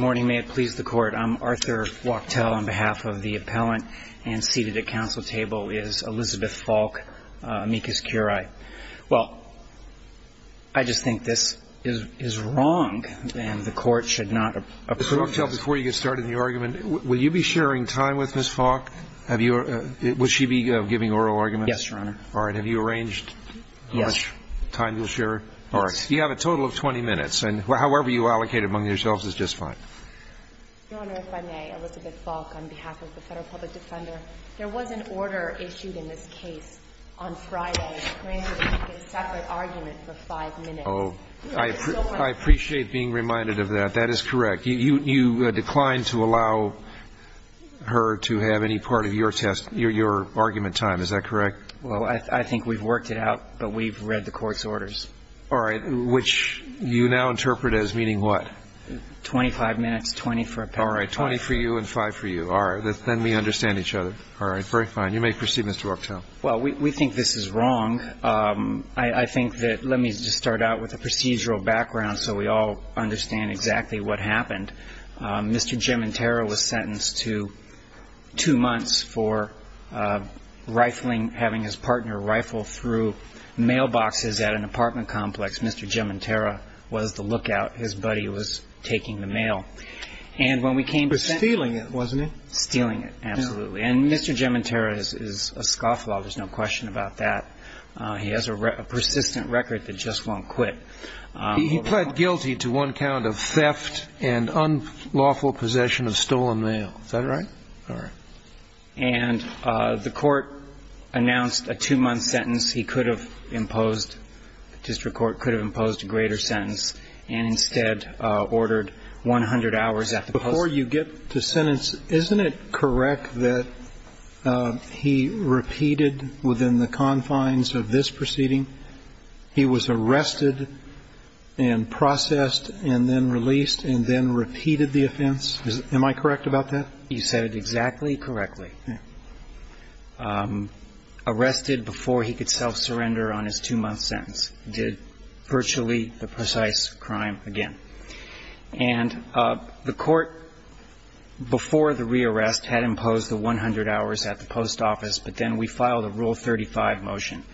morning may it please the court I'm Arthur Wachtell on behalf of the appellant and seated at council table is Elizabeth Faulk, amicus curiae. Well I just think this is is wrong and the court should not approve. Before you get started in the argument will you be sharing time with Miss Faulk? Have you or would she be giving oral arguments? Yes your honor. All right have you arranged? Yes. Time you'll share? All right you have a total of 20 minutes and however you allocate among yourselves is just fine. Your honor if I may, Elizabeth Faulk on behalf of the federal public defender. There was an order issued in this case on Friday granting a separate argument for five minutes. Oh I appreciate being reminded of that. That is correct. You declined to allow her to have any part of your test your argument time is that correct? Well I think we've worked it out but we've read the court's orders. All right which you now interpret as meaning what? 25 minutes 20 for a pair. All right 20 for you and 5 for you. All right then we understand each other. All right very fine you may proceed Mr. Wachtell. Well we think this is wrong. I think that let me just start out with a procedural background so we all understand exactly what happened. Mr. Gementera was sentenced to two months for rifling having his partner rifle through mailboxes at an apartment complex. Mr. Gementera was the local And instead ordered 100 hours at the post office. Before you get to sentence, isn't it correct that he repeated within the confines of this proceeding he was arrested and processed and then released and then repeated the offense? Am I correct about that? You said it exactly correctly. Arrested before he could self surrender on his two month sentence. Did virtually the precise crime. Again. And the court before the rearrest had imposed the 100 hours at the post office. But then we filed a rule 35 motion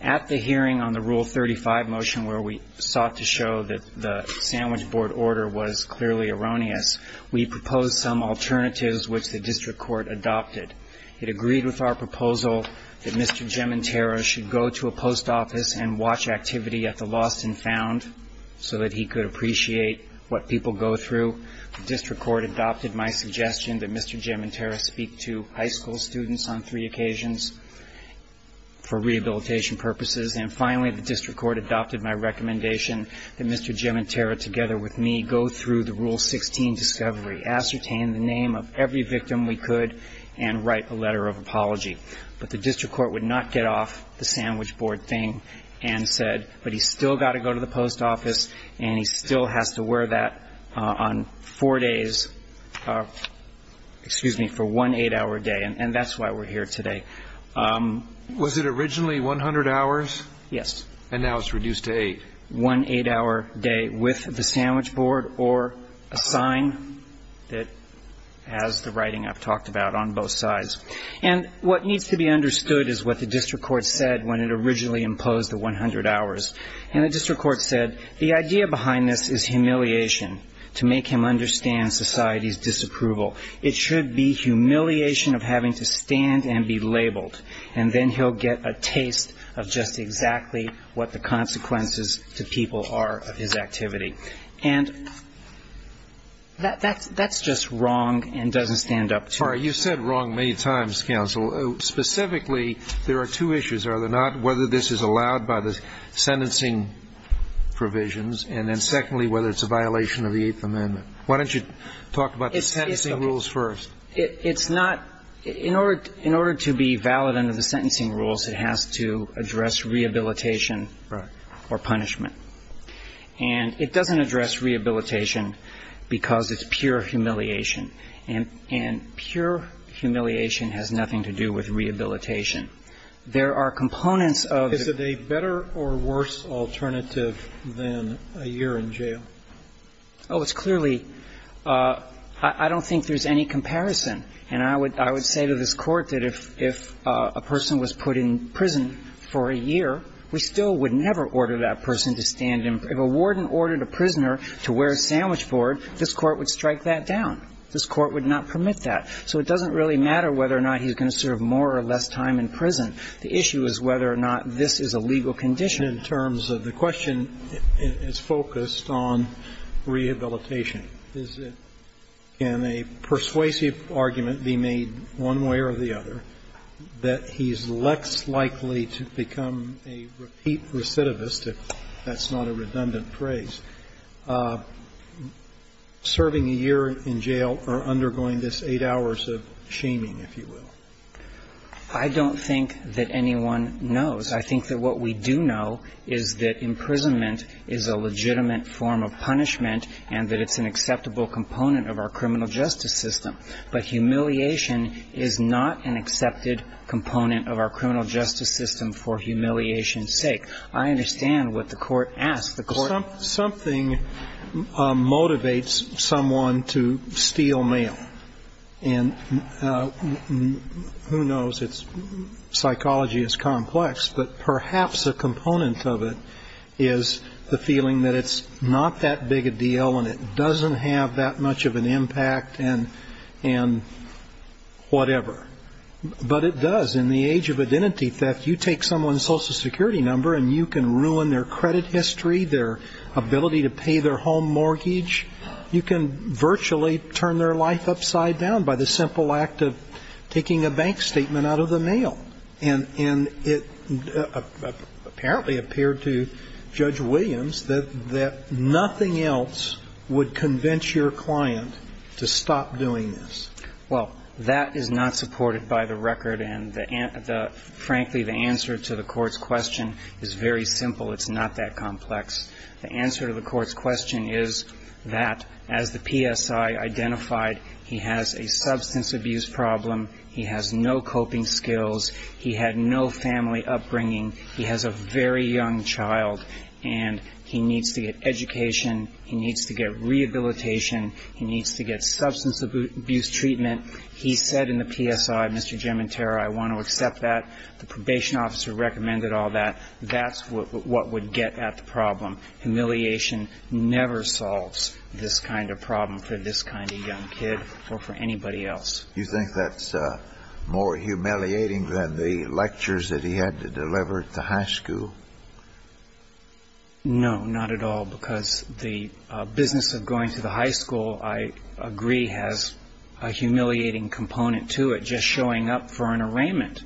at the hearing on the rule 35 motion where we sought to show that the sandwich board order was clearly erroneous. We propose some alternatives, which the district court adopted. It agreed with our proposal that Mr. Jim and Tara should go to a post office and watch activity at the lost and found so that he could. Appreciate what people go through. The district court adopted my suggestion that Mr. Jim and Tara speak to high school students on three occasions. For rehabilitation purposes and finally, the district court adopted my recommendation that Mr. Jim and Tara, together with me, go through the rule 16 discovery, ascertain the name of every victim we could and write a letter of apology. But the district court would not get off the sandwich board thing and said, but he's still got to go to the post office and he still has to go to the post office. He still has to wear that on four days. Excuse me for one eight hour day. And that's why we're here today. Was it originally 100 hours? Yes. And now it's reduced to a one eight hour day with the sandwich board or a sign that has the writing I've talked about on both sides. And what needs to be understood is what the district court said when it originally imposed the 100 hours. And the district court said the idea behind this is humiliation to make him understand society's disapproval. It should be humiliation of having to stand and be labeled. And then he'll get a taste of just exactly what the consequences to people are of his activity. And that's just wrong and doesn't stand up to it. All right. You said wrong many times, counsel. Specifically, there are two issues. Are there not? Whether this is allowed by the sentencing provisions. And then secondly, whether it's a violation of the Eighth Amendment. Why don't you talk about the sentencing rules first? In order to be valid under the sentencing rules, it has to address rehabilitation or punishment. And it doesn't address rehabilitation because it's pure humiliation. And pure humiliation has nothing to do with rehabilitation. There are components of Is it a better or worse alternative than a year in jail? Oh, it's clearly — I don't think there's any comparison. And I would — I would say to this Court that if a person was put in prison for a year, we still would never order that person to stand in — if a warden ordered a prisoner to wear a sandwich board, this Court would strike that down. This Court would not permit that. So it doesn't really matter whether or not he's going to serve more or less time in prison. The issue is whether or not this is a legal condition. And in terms of the question, it's focused on rehabilitation. Is it — can a persuasive argument be made one way or the other that he's less likely to become a repeat recidivist, if that's not a redundant phrase, serving a year in jail or undergoing this eight hours of shaming, if you will? I don't think that anyone knows. I think that what we do know is that imprisonment is a legitimate form of punishment and that it's an acceptable component of our criminal justice system. But humiliation is not an accepted component of our criminal justice system for humiliation's sake. I understand what the Court asks. Something motivates someone to steal mail. And who knows? It's — psychology is complex. But perhaps a component of it is the feeling that it's not that big a deal and it doesn't have that much of an impact and whatever. But it does. In the age of identity theft, you take someone's Social Security number and you can ruin their credit history, their ability to pay their home mortgage. You can virtually turn their life upside down by the simple act of taking a bank statement out of the mail. And it apparently appeared to Judge Williams that nothing else would convince your client to stop doing this. Well, that is not supported by the record. And the — frankly, the answer to the Court's question is very simple. It's not that complex. The answer to the Court's question is that, as the PSI identified, he has a substance abuse problem. He has no coping skills. He had no family upbringing. He has a very young child. And he needs to get education. He needs to get rehabilitation. He needs to get substance abuse treatment. He said in the PSI, Mr. Giamenterra, I want to accept that. The probation officer recommended all that. That's what would get at the problem. Humiliation never solves this kind of problem for this kind of young kid or for anybody else. You think that's more humiliating than the lectures that he had to deliver at the high school? No, not at all, because the business of going to the high school, I agree, has a humiliating component to it. Just showing up for an arraignment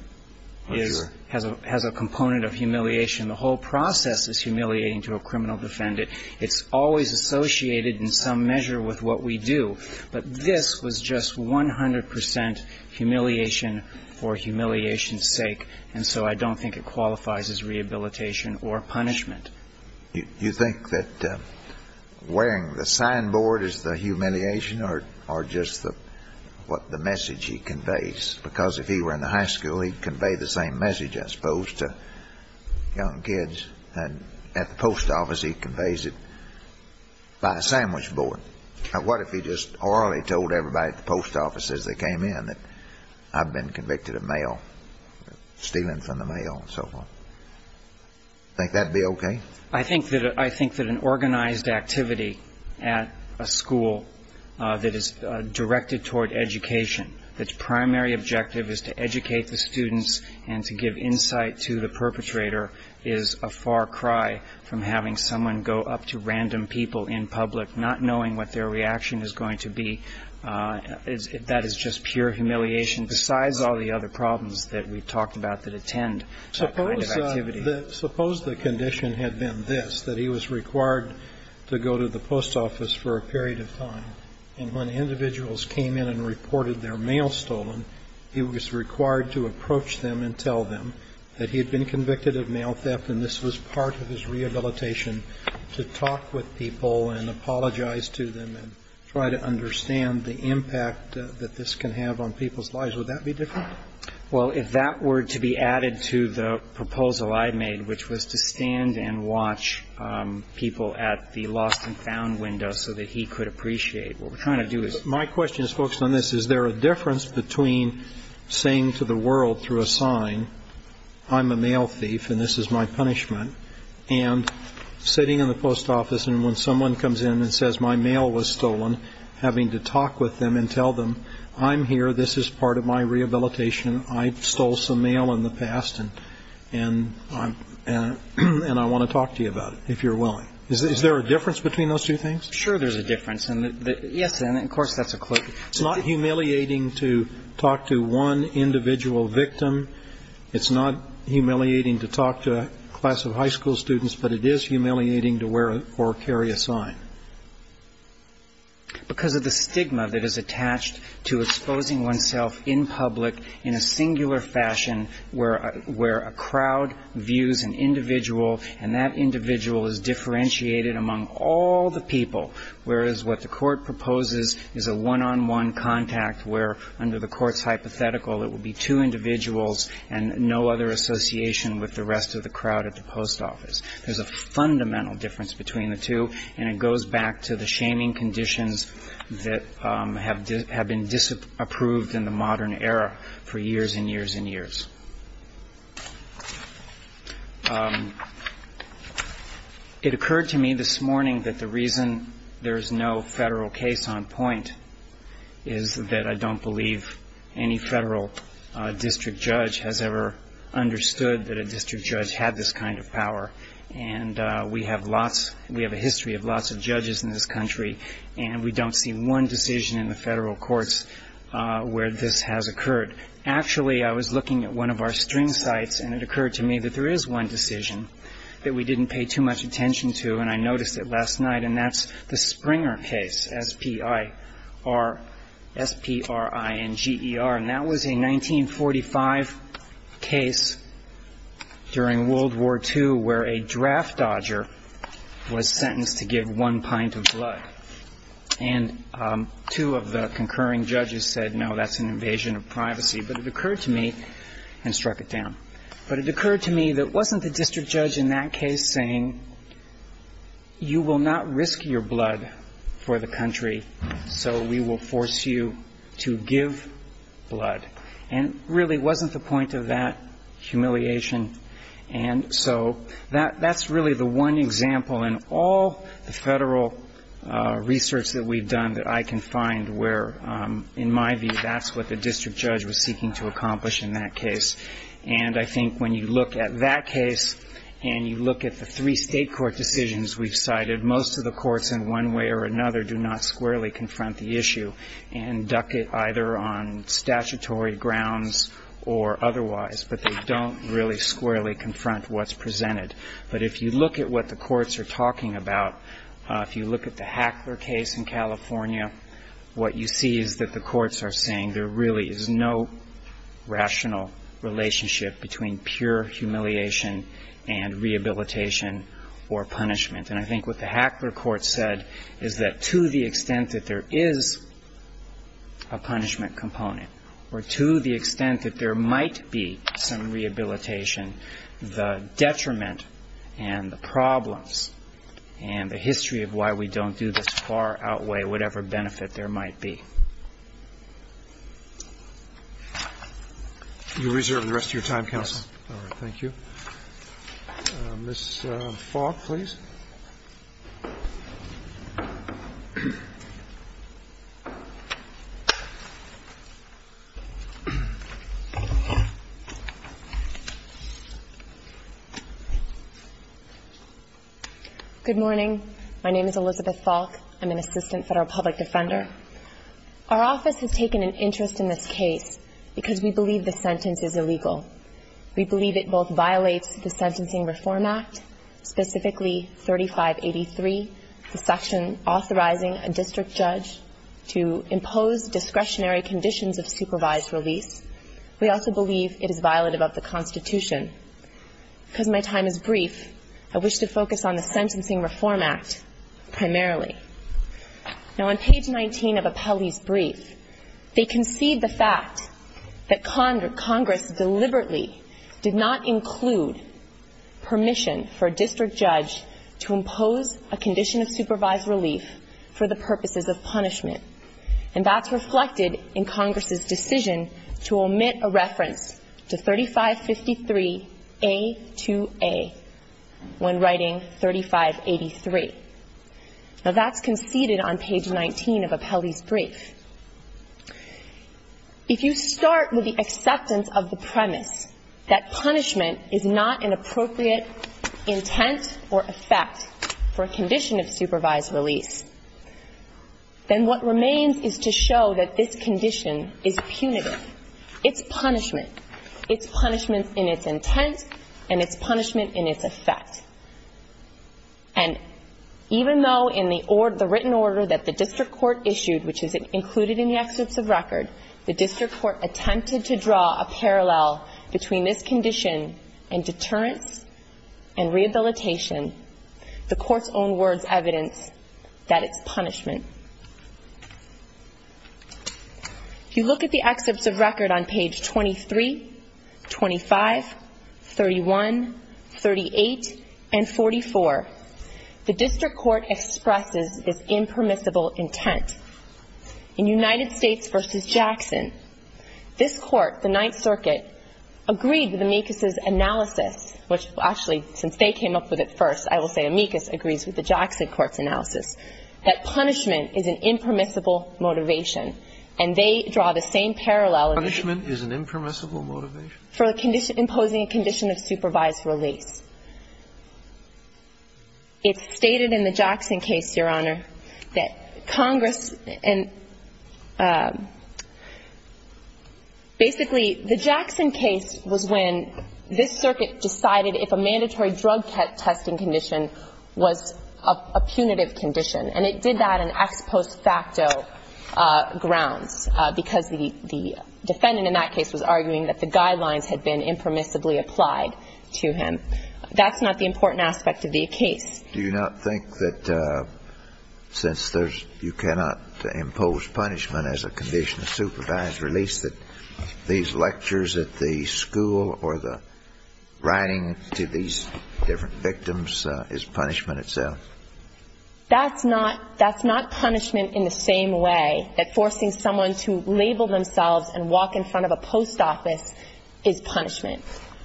is — has a component of humiliation. The whole process is humiliating to a criminal defendant. It's always associated in some measure with what we do. But this was just 100 percent humiliation for humiliation's sake. And so I don't think it qualifies as rehabilitation or punishment. You think that wearing the signboard is the humiliation or just the — what the message he conveys? Because if he were in the high school, he'd convey the same message, I suppose, to young kids. And at the post office, he conveys it by a sandwich board. What if he just orally told everybody at the post office as they came in that I've been convicted of mail, stealing from the mail and so forth? Think that would be okay? I think that — I think that an organized activity at a school that is directed toward education, its primary objective is to educate the students and to give insight to the perpetrator, is a far cry from having someone go up to random people in public not knowing what their reaction is going to be. That is just pure humiliation. Besides all the other problems that we've talked about that attend that kind of activity. Suppose the condition had been this, that he was required to go to the post office for a period of time. And when individuals came in and reported their mail stolen, he was required to approach them and tell them that he had been convicted of mail theft and this was part of his rehabilitation to talk with people and apologize to them and try to understand the impact that this can have on people's lives. Would that be different? Well, if that were to be added to the proposal I made, which was to stand and watch people at the lost and found window so that he could appreciate, what we're trying to do is — I mean, saying to the world through a sign, I'm a mail thief and this is my punishment. And sitting in the post office and when someone comes in and says my mail was stolen, having to talk with them and tell them, I'm here, this is part of my rehabilitation, I stole some mail in the past and I want to talk to you about it, if you're willing. Is there a difference between those two things? Sure there's a difference. Yes, and of course that's a clue. It's not humiliating to talk to one individual victim. It's not humiliating to talk to a class of high school students, but it is humiliating to wear or carry a sign. Because of the stigma that is attached to exposing oneself in public in a singular fashion where a crowd views an individual and that individual is differentiated among all the people, whereas what the court proposes is a one-on-one contact where under the court's hypothetical it would be two individuals and no other association with the rest of the crowd at the post office. There's a fundamental difference between the two and it goes back to the shaming conditions that have been disapproved in the modern era for years and years and years. It occurred to me this morning that the reason there is no federal case on point is that I don't believe any federal district judge has ever understood that a district judge had this kind of power. And we have a history of lots of judges in this country and we don't see one decision in the federal courts where this has occurred. Actually, I was looking at one of our string sites and it occurred to me that there is one decision that we didn't pay too much attention to and I noticed it last night and that's the Springer case, S-P-R-I-N-G-E-R. And that was a 1945 case during World War II where a draft dodger was sentenced to give one pint of blood. And two of the concurring judges said, no, that's an invasion of privacy. But it occurred to me and struck it down. But it occurred to me that it wasn't the district judge in that case saying, you will not risk your blood for the country so we will force you to give blood. And really it wasn't the point of that humiliation. And so that's really the one example in all the federal research that we've done that I can find where, in my view, that's what the district judge was seeking to accomplish in that case. And I think when you look at that case and you look at the three state court decisions we've cited, most of the courts in one way or another do not squarely confront the issue and duck it either on statutory grounds or otherwise, but they don't really squarely confront what's presented. But if you look at what the courts are talking about, if you look at the Hackler case in California, what you see is that the courts are saying there really is no rational relationship between pure humiliation and rehabilitation or punishment. And I think what the Hackler court said is that to the extent that there is a punishment component or to the extent that there might be some rehabilitation, the detriment and the problems and the history of why we don't do this far outweigh whatever benefit there might be. Roberts. You're reserved the rest of your time, counsel. Thank you. Ms. Fogg, please. Good morning. My name is Elizabeth Fogg. I'm an assistant federal public defender. Our office has taken an interest in this case because we believe the sentence is illegal. We believe it both violates the Sentencing Reform Act, specifically 3583, the section authorizing a district judge to impose discretionary conditions of supervised release. We also believe it is violative of the Constitution. Because my time is brief, I wish to focus on the Sentencing Reform Act primarily. Now, on page 19 of Apelli's brief, they concede the fact that Congress deliberately did not include permission for a district judge to impose a condition of supervised relief for the purposes of punishment. And that's reflected in Congress's decision to omit a reference to 3553A2A when writing 3583. Now, that's conceded on page 19 of Apelli's brief. If you start with the acceptance of the premise that punishment is not an appropriate intent or effect for a condition of supervised release, then what remains is to show that this condition is punitive. It's punishment. It's punishment in its intent, and it's punishment in its effect. And even though in the written order that the district court issued, which is included in the excerpts of record, the district court attempted to draw a parallel between this condition and deterrence and rehabilitation, the court's own words evidence that it's punishment. If you look at the excerpts of record on page 23, 25, 31, 38, and 44, the district court expresses this impermissible intent. In United States v. Jackson, this court, the Ninth Circuit, agreed with Amicus' analysis, which actually, since they came up with it first, I will say Amicus agrees with the Jackson court's analysis, that punishment is an impermissible motivation. And they draw the same parallel. Punishment is an impermissible motivation? For imposing a condition of supervised release. It's stated in the Jackson case, Your Honor, that Congress and basically, the Jackson case was when this circuit decided if a mandatory drug testing condition was appropriate for a punitive condition, and it did that on ex post facto grounds, because the defendant in that case was arguing that the guidelines had been impermissibly applied to him. That's not the important aspect of the case. Do you not think that since there's you cannot impose punishment as a condition of supervised release, that these lectures at the school or the writing to these different victims is punishment itself? That's not punishment in the same way that forcing someone to label themselves and walk in front of a post office is punishment.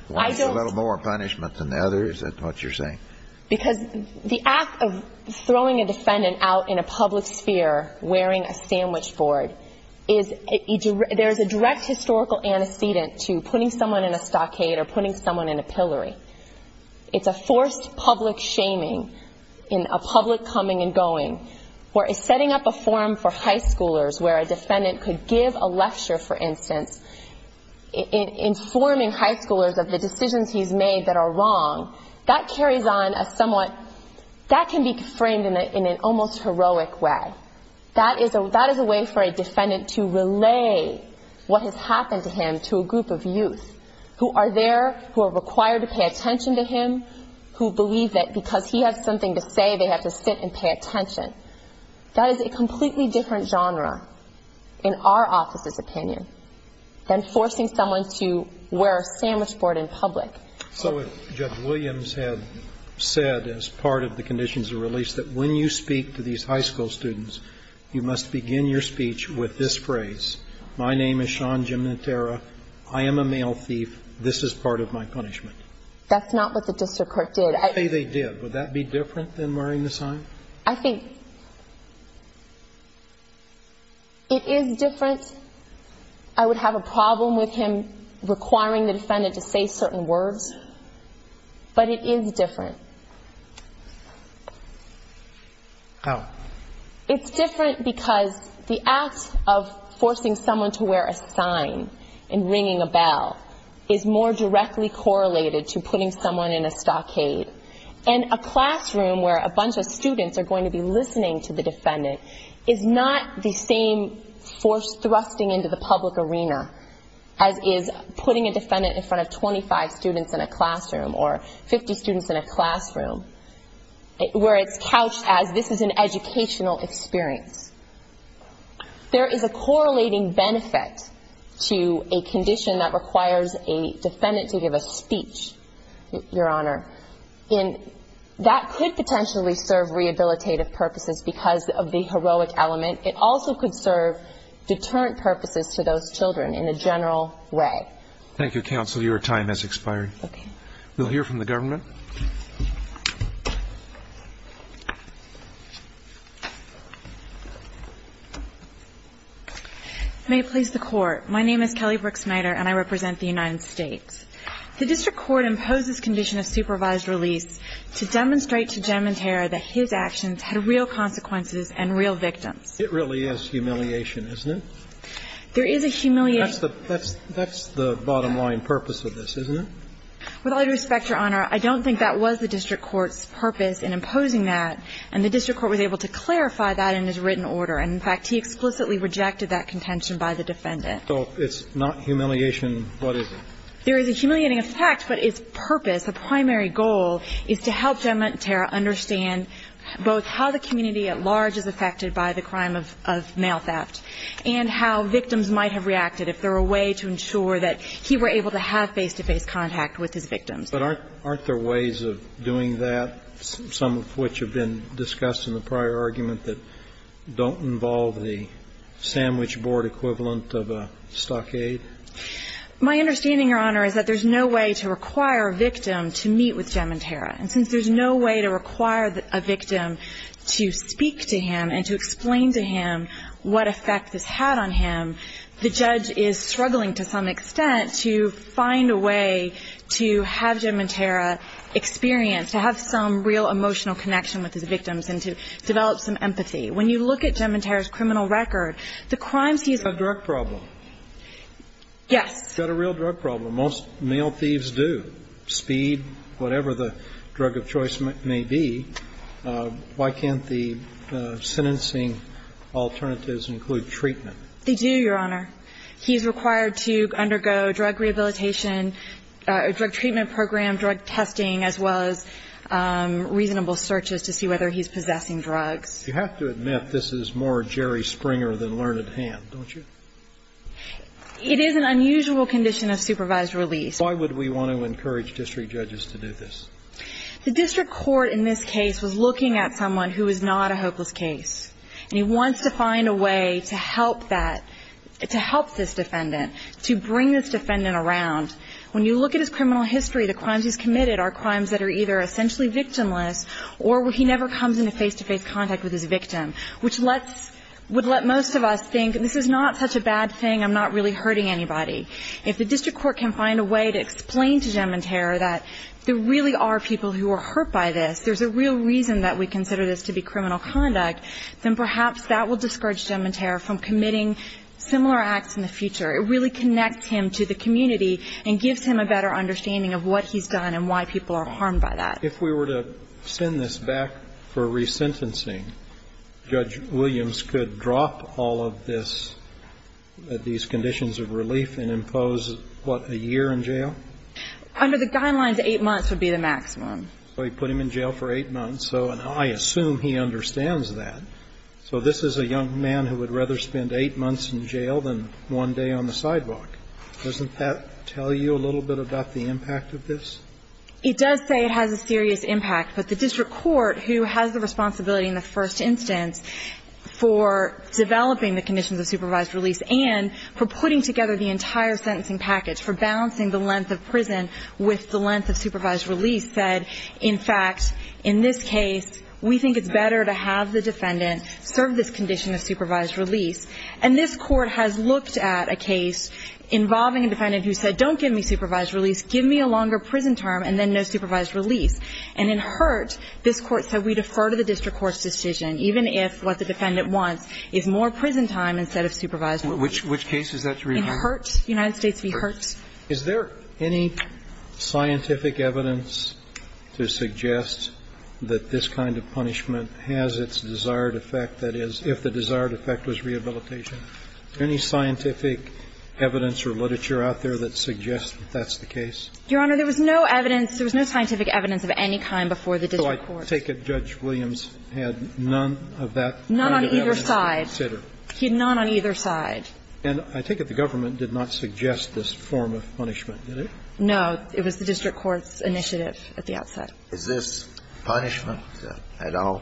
A little more punishment than the others, is that what you're saying? Because the act of throwing a defendant out in a public sphere wearing a sandwich board, there's a direct historical antecedent to putting someone in a stockade or putting someone in a pillory. It's a forced public shaming in a public coming and going where setting up a forum for high schoolers where a defendant could give a lecture, for instance, informing high schoolers of the decisions he's made that are wrong, that carries on as somewhat, that can be framed in an almost heroic way. That is a way for a defendant to relay what has happened to him to a group of youth who are there, who are required to pay attention to him, who believe that because he has something to say, they have to sit and pay attention. That is a completely different genre in our office's opinion than forcing someone to wear a sandwich board in public. So if Judge Williams had said as part of the conditions of release that when you speak to these high school students, you must begin your speech with this phrase, my name is Sean Jimenitera, I am a male thief, this is part of my punishment. That's not what the district court did. Okay, they did. Would that be different than wearing the sign? I think it is different. I would have a problem with him requiring the defendant to say certain words, but it is different. How? It's different because the act of forcing someone to wear a sign and ringing a bell is more directly correlated to putting someone in a stockade. And a classroom where a bunch of students are going to be listening to the defendant is not the same force thrusting into the public arena as is putting a defendant in front of 25 students in a classroom or 50 students in a classroom, where it's couched as this is an educational experience. There is a correlating benefit to a condition that requires a defendant to give a speech, Your Honor. And that could potentially serve rehabilitative purposes because of the heroic element. It also could serve deterrent purposes to those children in a general way. Thank you, counsel. Your time has expired. We'll hear from the government. May it please the court. My name is Kelly Brooks-Snyder and I represent the United States. The district court imposed this condition of supervised release to demonstrate to Gentleman Terra that his actions had real consequences and real victims. It really is humiliation, isn't it? There is a humiliation. That's the bottom line purpose of this, isn't it? With all due respect, Your Honor, I don't think that was the district court's purpose in imposing that. And the district court was able to clarify that in its written order. And, in fact, he explicitly rejected that contention by the defendant. So it's not humiliation. What is it? There is a humiliating effect. But his purpose, a primary goal, is to help Gentleman Terra understand both how the community at large is affected by the crime of male theft and how victims might have reacted if there were a way to ensure that he were able to have face-to-face contact with his victims. But aren't there ways of doing that, some of which have been discussed in the prior argument that don't involve the sandwich board equivalent of a stockade? My understanding, Your Honor, is that there's no way to require a victim to meet with Gentleman Terra. And since there's no way to require a victim to speak to him and to explain to him what effect this had on him, the judge is struggling to some extent to find a way to have Gentleman Terra experience, to have some real emotional connection with his victims and to develop some empathy. When you look at Gentleman Terra's criminal record, the crimes he's ---- He's got a drug problem. Yes. He's got a real drug problem. Most male thieves do, speed, whatever the drug of choice may be. Why can't the sentencing alternatives include treatment? They do, Your Honor. He's required to undergo drug rehabilitation, drug treatment program, drug testing, as well as reasonable searches to see whether he's possessing drugs. You have to admit this is more Jerry Springer than learned hand, don't you? It is an unusual condition of supervised release. Why would we want to encourage district judges to do this? The district court in this case was looking at someone who was not a hopeless case, and he wants to find a way to help that, to help this defendant, to bring this defendant around. When you look at his criminal history, the crimes he's committed are crimes that are either essentially victimless or he never comes into face-to-face contact with his victim, which lets ---- would let most of us think this is not such a bad thing, I'm not really hurting anybody. If the district court can find a way to explain to Gentleman Terra that there really are people who are hurt by this, there's a real reason that we consider this to be criminal conduct, then perhaps that will discourage Gentleman Terra from committing similar acts in the future. It really connects him to the community and gives him a better understanding of what he's done and why people are harmed by that. If we were to send this back for resentencing, Judge Williams could drop all of this at these conditions of relief and impose, what, a year in jail? Under the guidelines, 8 months would be the maximum. So he put him in jail for 8 months, so I assume he understands that. So this is a young man who would rather spend 8 months in jail than 1 day on the sidewalk. Doesn't that tell you a little bit about the impact of this? It does say it has a serious impact. But the district court, who has the responsibility in the first instance for developing the conditions of supervised release and for putting together the entire sentencing package, for balancing the length of prison with the length of supervised release, said, in fact, in this case, we think it's better to have the defendant serve this condition of supervised release. And this Court has looked at a case involving a defendant who said, don't give me supervised release, give me a longer prison term, and then no supervised release. And in Hurt, this Court said, we defer to the district court's decision, even if what the defendant wants is more prison time instead of supervised release. Which case is that, Your Honor? In Hurt. United States v. Hurt. Is there any scientific evidence to suggest that this kind of punishment has its desired effect, that is, if the desired effect was rehabilitation? Any scientific evidence or literature out there that suggests that that's the case? Your Honor, there was no evidence. There was no scientific evidence of any kind before the district court. So I take it Judge Williams had none of that kind of evidence to consider. None on either side. He had none on either side. And I take it the government did not suggest this form of punishment, did it? No. It was the district court's initiative at the outset. Is this punishment at all?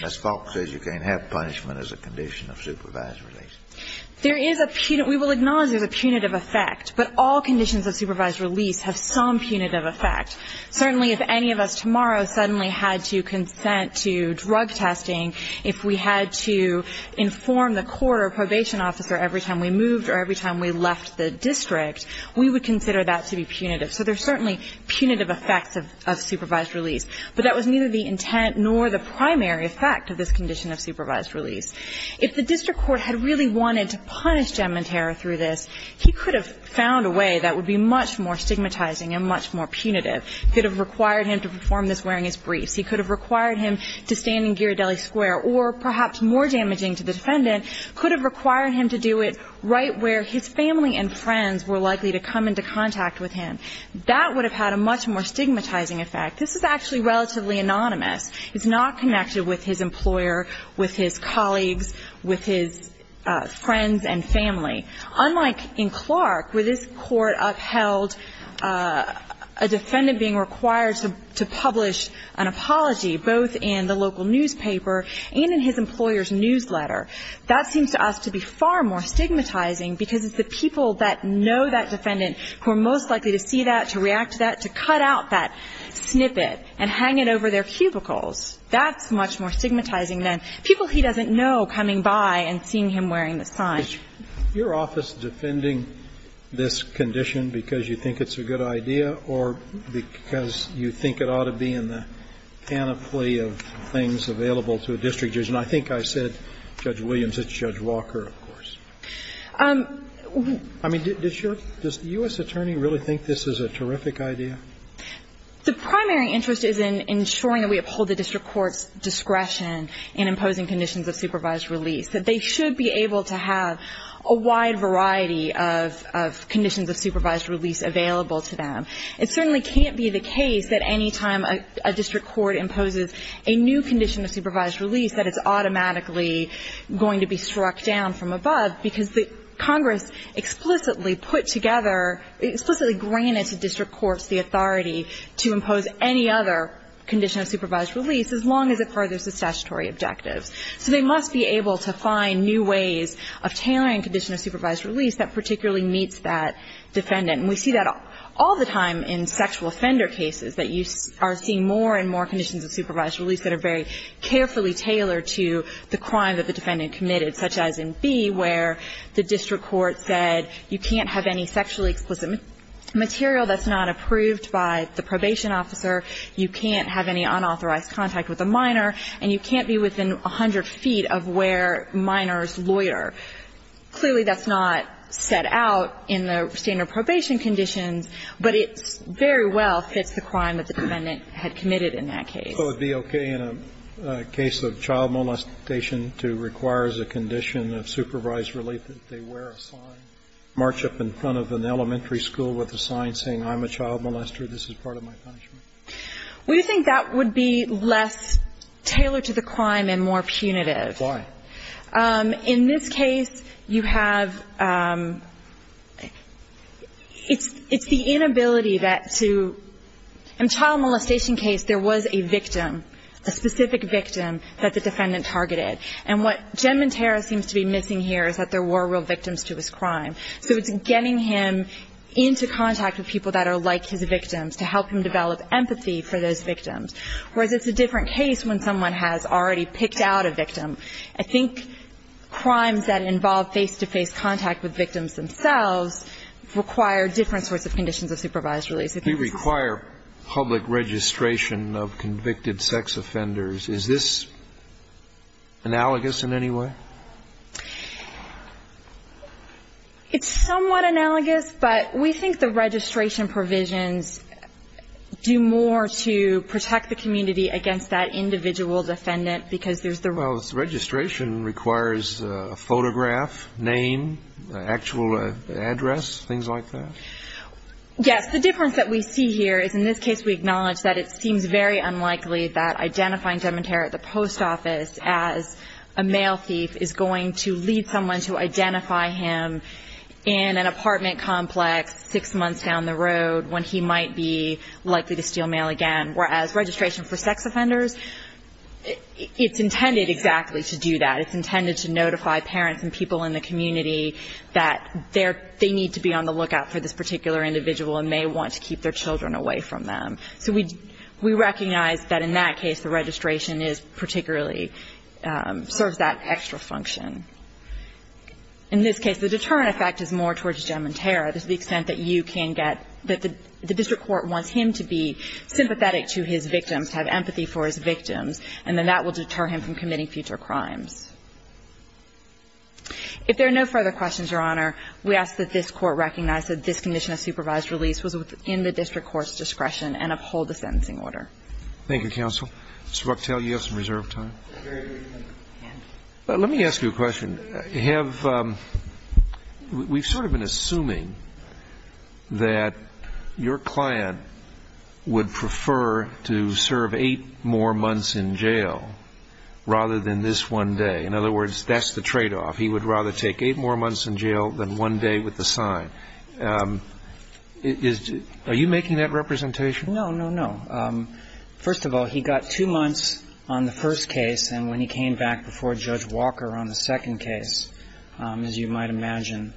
Ms. Falk says you can't have punishment as a condition of supervised release. There is a punitive – we will acknowledge there's a punitive effect. But all conditions of supervised release have some punitive effect. Certainly, if any of us tomorrow suddenly had to consent to drug testing, if we had to inform the court or probation officer every time we moved or every time we left the district, we would consider that to be punitive. So there's certainly punitive effects of supervised release. But that was neither the intent nor the primary effect of this condition of supervised release. If the district court had really wanted to punish Giamantera through this, he could have found a way that would be much more stigmatizing and much more punitive. It could have required him to perform this wearing his briefs. He could have required him to stand in Ghirardelli Square. Or perhaps more damaging to the defendant, could have required him to do it right where his family and friends were likely to come into contact with him. That would have had a much more stigmatizing effect. This is actually relatively anonymous. It's not connected with his employer, with his colleagues, with his friends and family. Unlike in Clark, where this court upheld a defendant being required to publish an apology, both in the local newspaper and in his employer's newsletter, that seems to us to be far more stigmatizing because it's the people that know that defendant who are most likely to see that, to react to that, to cut out that snippet and hang it over their cubicles. That's much more stigmatizing than people he doesn't know coming by and seeing him wearing the sign. Your office defending this condition because you think it's a good idea or because you think it ought to be in the panoply of things available to a district judge? And I think I said Judge Williams. It's Judge Walker, of course. I mean, does the U.S. attorney really think this is a terrific idea? The primary interest is in ensuring that we uphold the district court's discretion in imposing conditions of supervised release, that they should be able to have a wide variety of conditions of supervised release available to them. It certainly can't be the case that any time a district court imposes a new condition of supervised release that it's automatically going to be struck down from above because Congress explicitly put together, explicitly granted to district courts the authority to impose any other condition of supervised release as long as it furthers the statutory objectives. So they must be able to find new ways of tailoring condition of supervised release that particularly meets that defendant. And we see that all the time in sexual offender cases that you are seeing more and more conditions of supervised release that are very carefully tailored to the crime that the defendant committed, such as in B, where the district court said you can't have any sexually explicit material that's not approved by the probation officer, you can't have any unauthorized contact with a minor, and you can't be within 100 feet of where minor's lawyer. Clearly, that's not set out in the standard probation conditions, but it very well fits the crime that the defendant had committed in that case. So it would be okay in a case of child molestation to require as a condition of supervised release that they wear a sign, march up in front of an elementary school with a sign saying, I'm a child molester, this is part of my punishment? Well, you think that would be less tailored to the crime and more punitive. Why? In this case, you have the inability that to do that. In the child molestation case, there was a victim, a specific victim that the defendant targeted. And what Genmenterra seems to be missing here is that there were real victims to his crime. So it's getting him into contact with people that are like his victims to help him develop empathy for those victims, whereas it's a different case when someone has already picked out a victim. I think crimes that involve face-to-face contact with victims themselves require different sorts of conditions of supervised release. We require public registration of convicted sex offenders. Is this analogous in any way? It's somewhat analogous. But we think the registration provisions do more to protect the community against that individual defendant because there's the real... Well, registration requires a photograph, name, actual address, things like that? Yes. The difference that we see here is in this case we acknowledge that it seems very unlikely that identifying Genmenterra at the post office as a mail thief is going to lead someone to identify him in an apartment complex six months down the road when he might be likely to steal mail again, whereas registration for sex offenders, it's intended exactly to do that. It's intended to notify parents and people in the community that they need to be on the lookout for this particular individual and may want to keep their children away from them. So we recognize that in that case the registration is particularly – serves that extra function. In this case, the deterrent effect is more towards Genmenterra to the extent that you can get – that the district court wants him to be sympathetic to his victims, have empathy for his victims, and then that will deter him from committing future crimes. If there are no further questions, Your Honor, we ask that this Court recognize that this condition of supervised release was within the district court's discretion and uphold the sentencing order. Thank you, counsel. Mr. Bucktail, you have some reserve time. Let me ask you a question. Have – we've sort of been assuming that your client would prefer to serve eight more months in jail rather than this one day. In other words, that's the tradeoff. He would rather take eight more months in jail than one day with the sign. Is – are you making that representation? No, no, no. First of all, he got two months on the first case, and when he came back before Judge Walker on the second case, as you might imagine,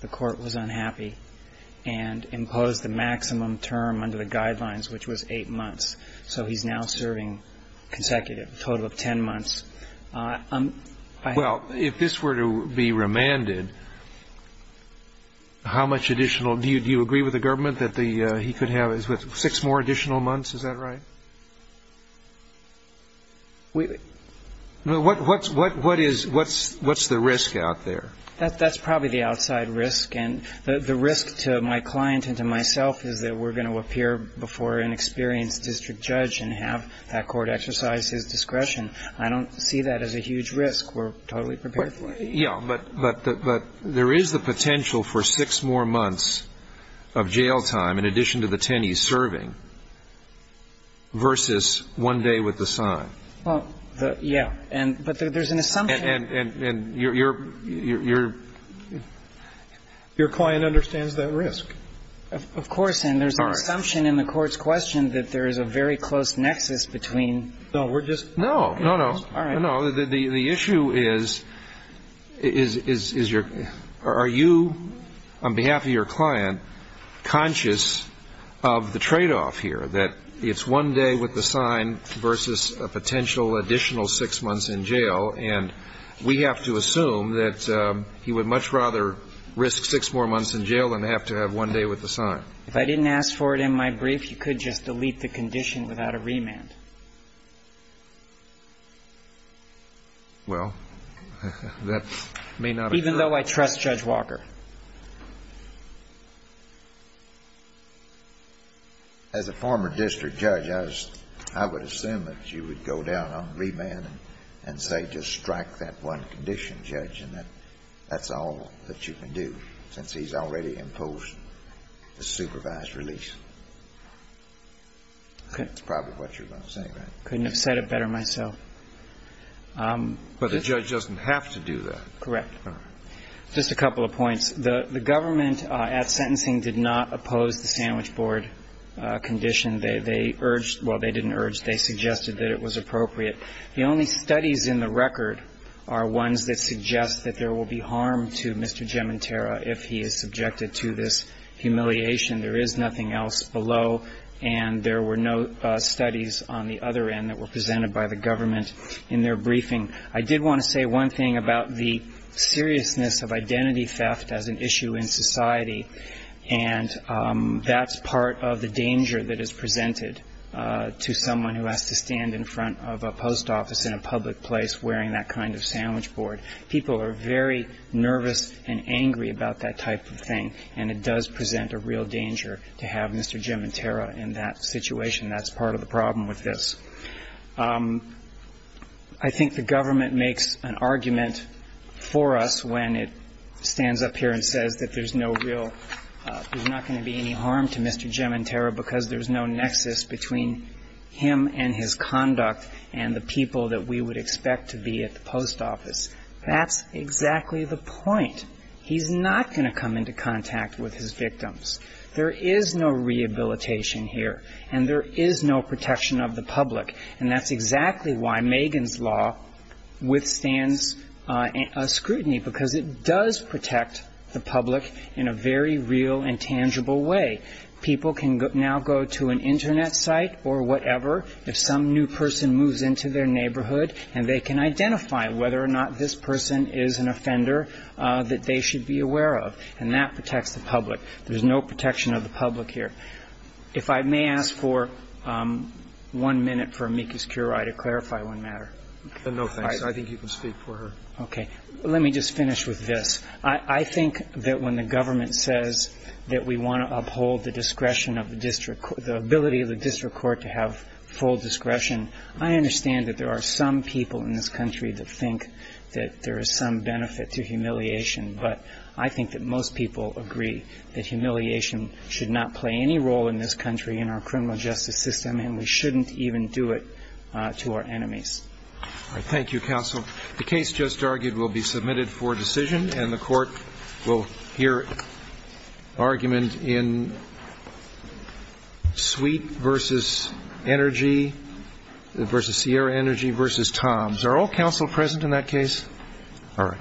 the court was unhappy and imposed the maximum term under the guidelines, which was eight months. So he's now serving consecutive, a total of 10 months. Well, if this were to be remanded, how much additional – do you agree with the government that he could have six more additional months? Is that right? What's the risk out there? That's probably the outside risk, and the risk to my client and to myself is that we're going to appear before an experienced district judge and have that court exercise his discretion. I don't see that as a huge risk. We're totally prepared for it. Yeah. But there is the potential for six more months of jail time, in addition to the 10 he's serving, versus one day with the sign. Well, yeah. But there's an assumption. And your client understands that risk. Of course. And there's an assumption in the court's question that there is a very close nexus between – No, we're just – No, no, no. All right. No, no. The issue is, is your – are you, on behalf of your client, conscious of the tradeoff here, that it's one day with the sign versus a potential additional six months in jail, and we have to assume that he would much rather risk six more months in jail than have to have one day with the sign? If I didn't ask for it in my brief, you could just delete the condition without a remand. Well, that may not have occurred. Even though I trust Judge Walker. As a former district judge, I would assume that you would go down on remand and say just strike that one condition, Judge, and that that's all that you can do, since he's already imposed the supervised release. That's probably what you're going to say, right? Couldn't have said it better myself. But the judge doesn't have to do that. Correct. All right. Just a couple of points. The government at sentencing did not oppose the sandwich board condition. They urged – well, they didn't urge. They suggested that it was appropriate. The only studies in the record are ones that suggest that there will be harm to Mr. if he is subjected to this humiliation. There is nothing else below. And there were no studies on the other end that were presented by the government in their briefing. I did want to say one thing about the seriousness of identity theft as an issue in society, and that's part of the danger that is presented to someone who has to stand in front of a post office in a public place wearing that kind of sandwich board. People are very nervous and angry about that type of thing, and it does present a real danger to have Mr. Gementera in that situation. That's part of the problem with this. I think the government makes an argument for us when it stands up here and says that there's no real – there's not going to be any harm to Mr. Gementera because there's no nexus between him and his conduct and the people that we would expect to be at the post office. That's exactly the point. He's not going to come into contact with his victims. There is no rehabilitation here, and there is no protection of the public. And that's exactly why Megan's law withstands scrutiny, because it does protect the public in a very real and tangible way. People can now go to an Internet site or whatever if some new person moves into their neighborhood, and they can identify whether or not this person is an offender that they should be aware of, and that protects the public. There's no protection of the public here. If I may ask for one minute for Miki Skirai to clarify one matter. No, thanks. I think you can speak for her. Okay. Let me just finish with this. I think that when the government says that we want to uphold the discretion of the district, the ability of the district court to have full discretion, I understand that there are some people in this country that think that there is some benefit to humiliation. But I think that most people agree that humiliation should not play any role in this country in our criminal justice system, and we shouldn't even do it to our enemies. All right. Thank you, counsel. The case just argued will be submitted for decision, and the court will hear argument in Sweet v. Energy v. Sierra Energy v. Tom's. Are all counsel present in that case? All right.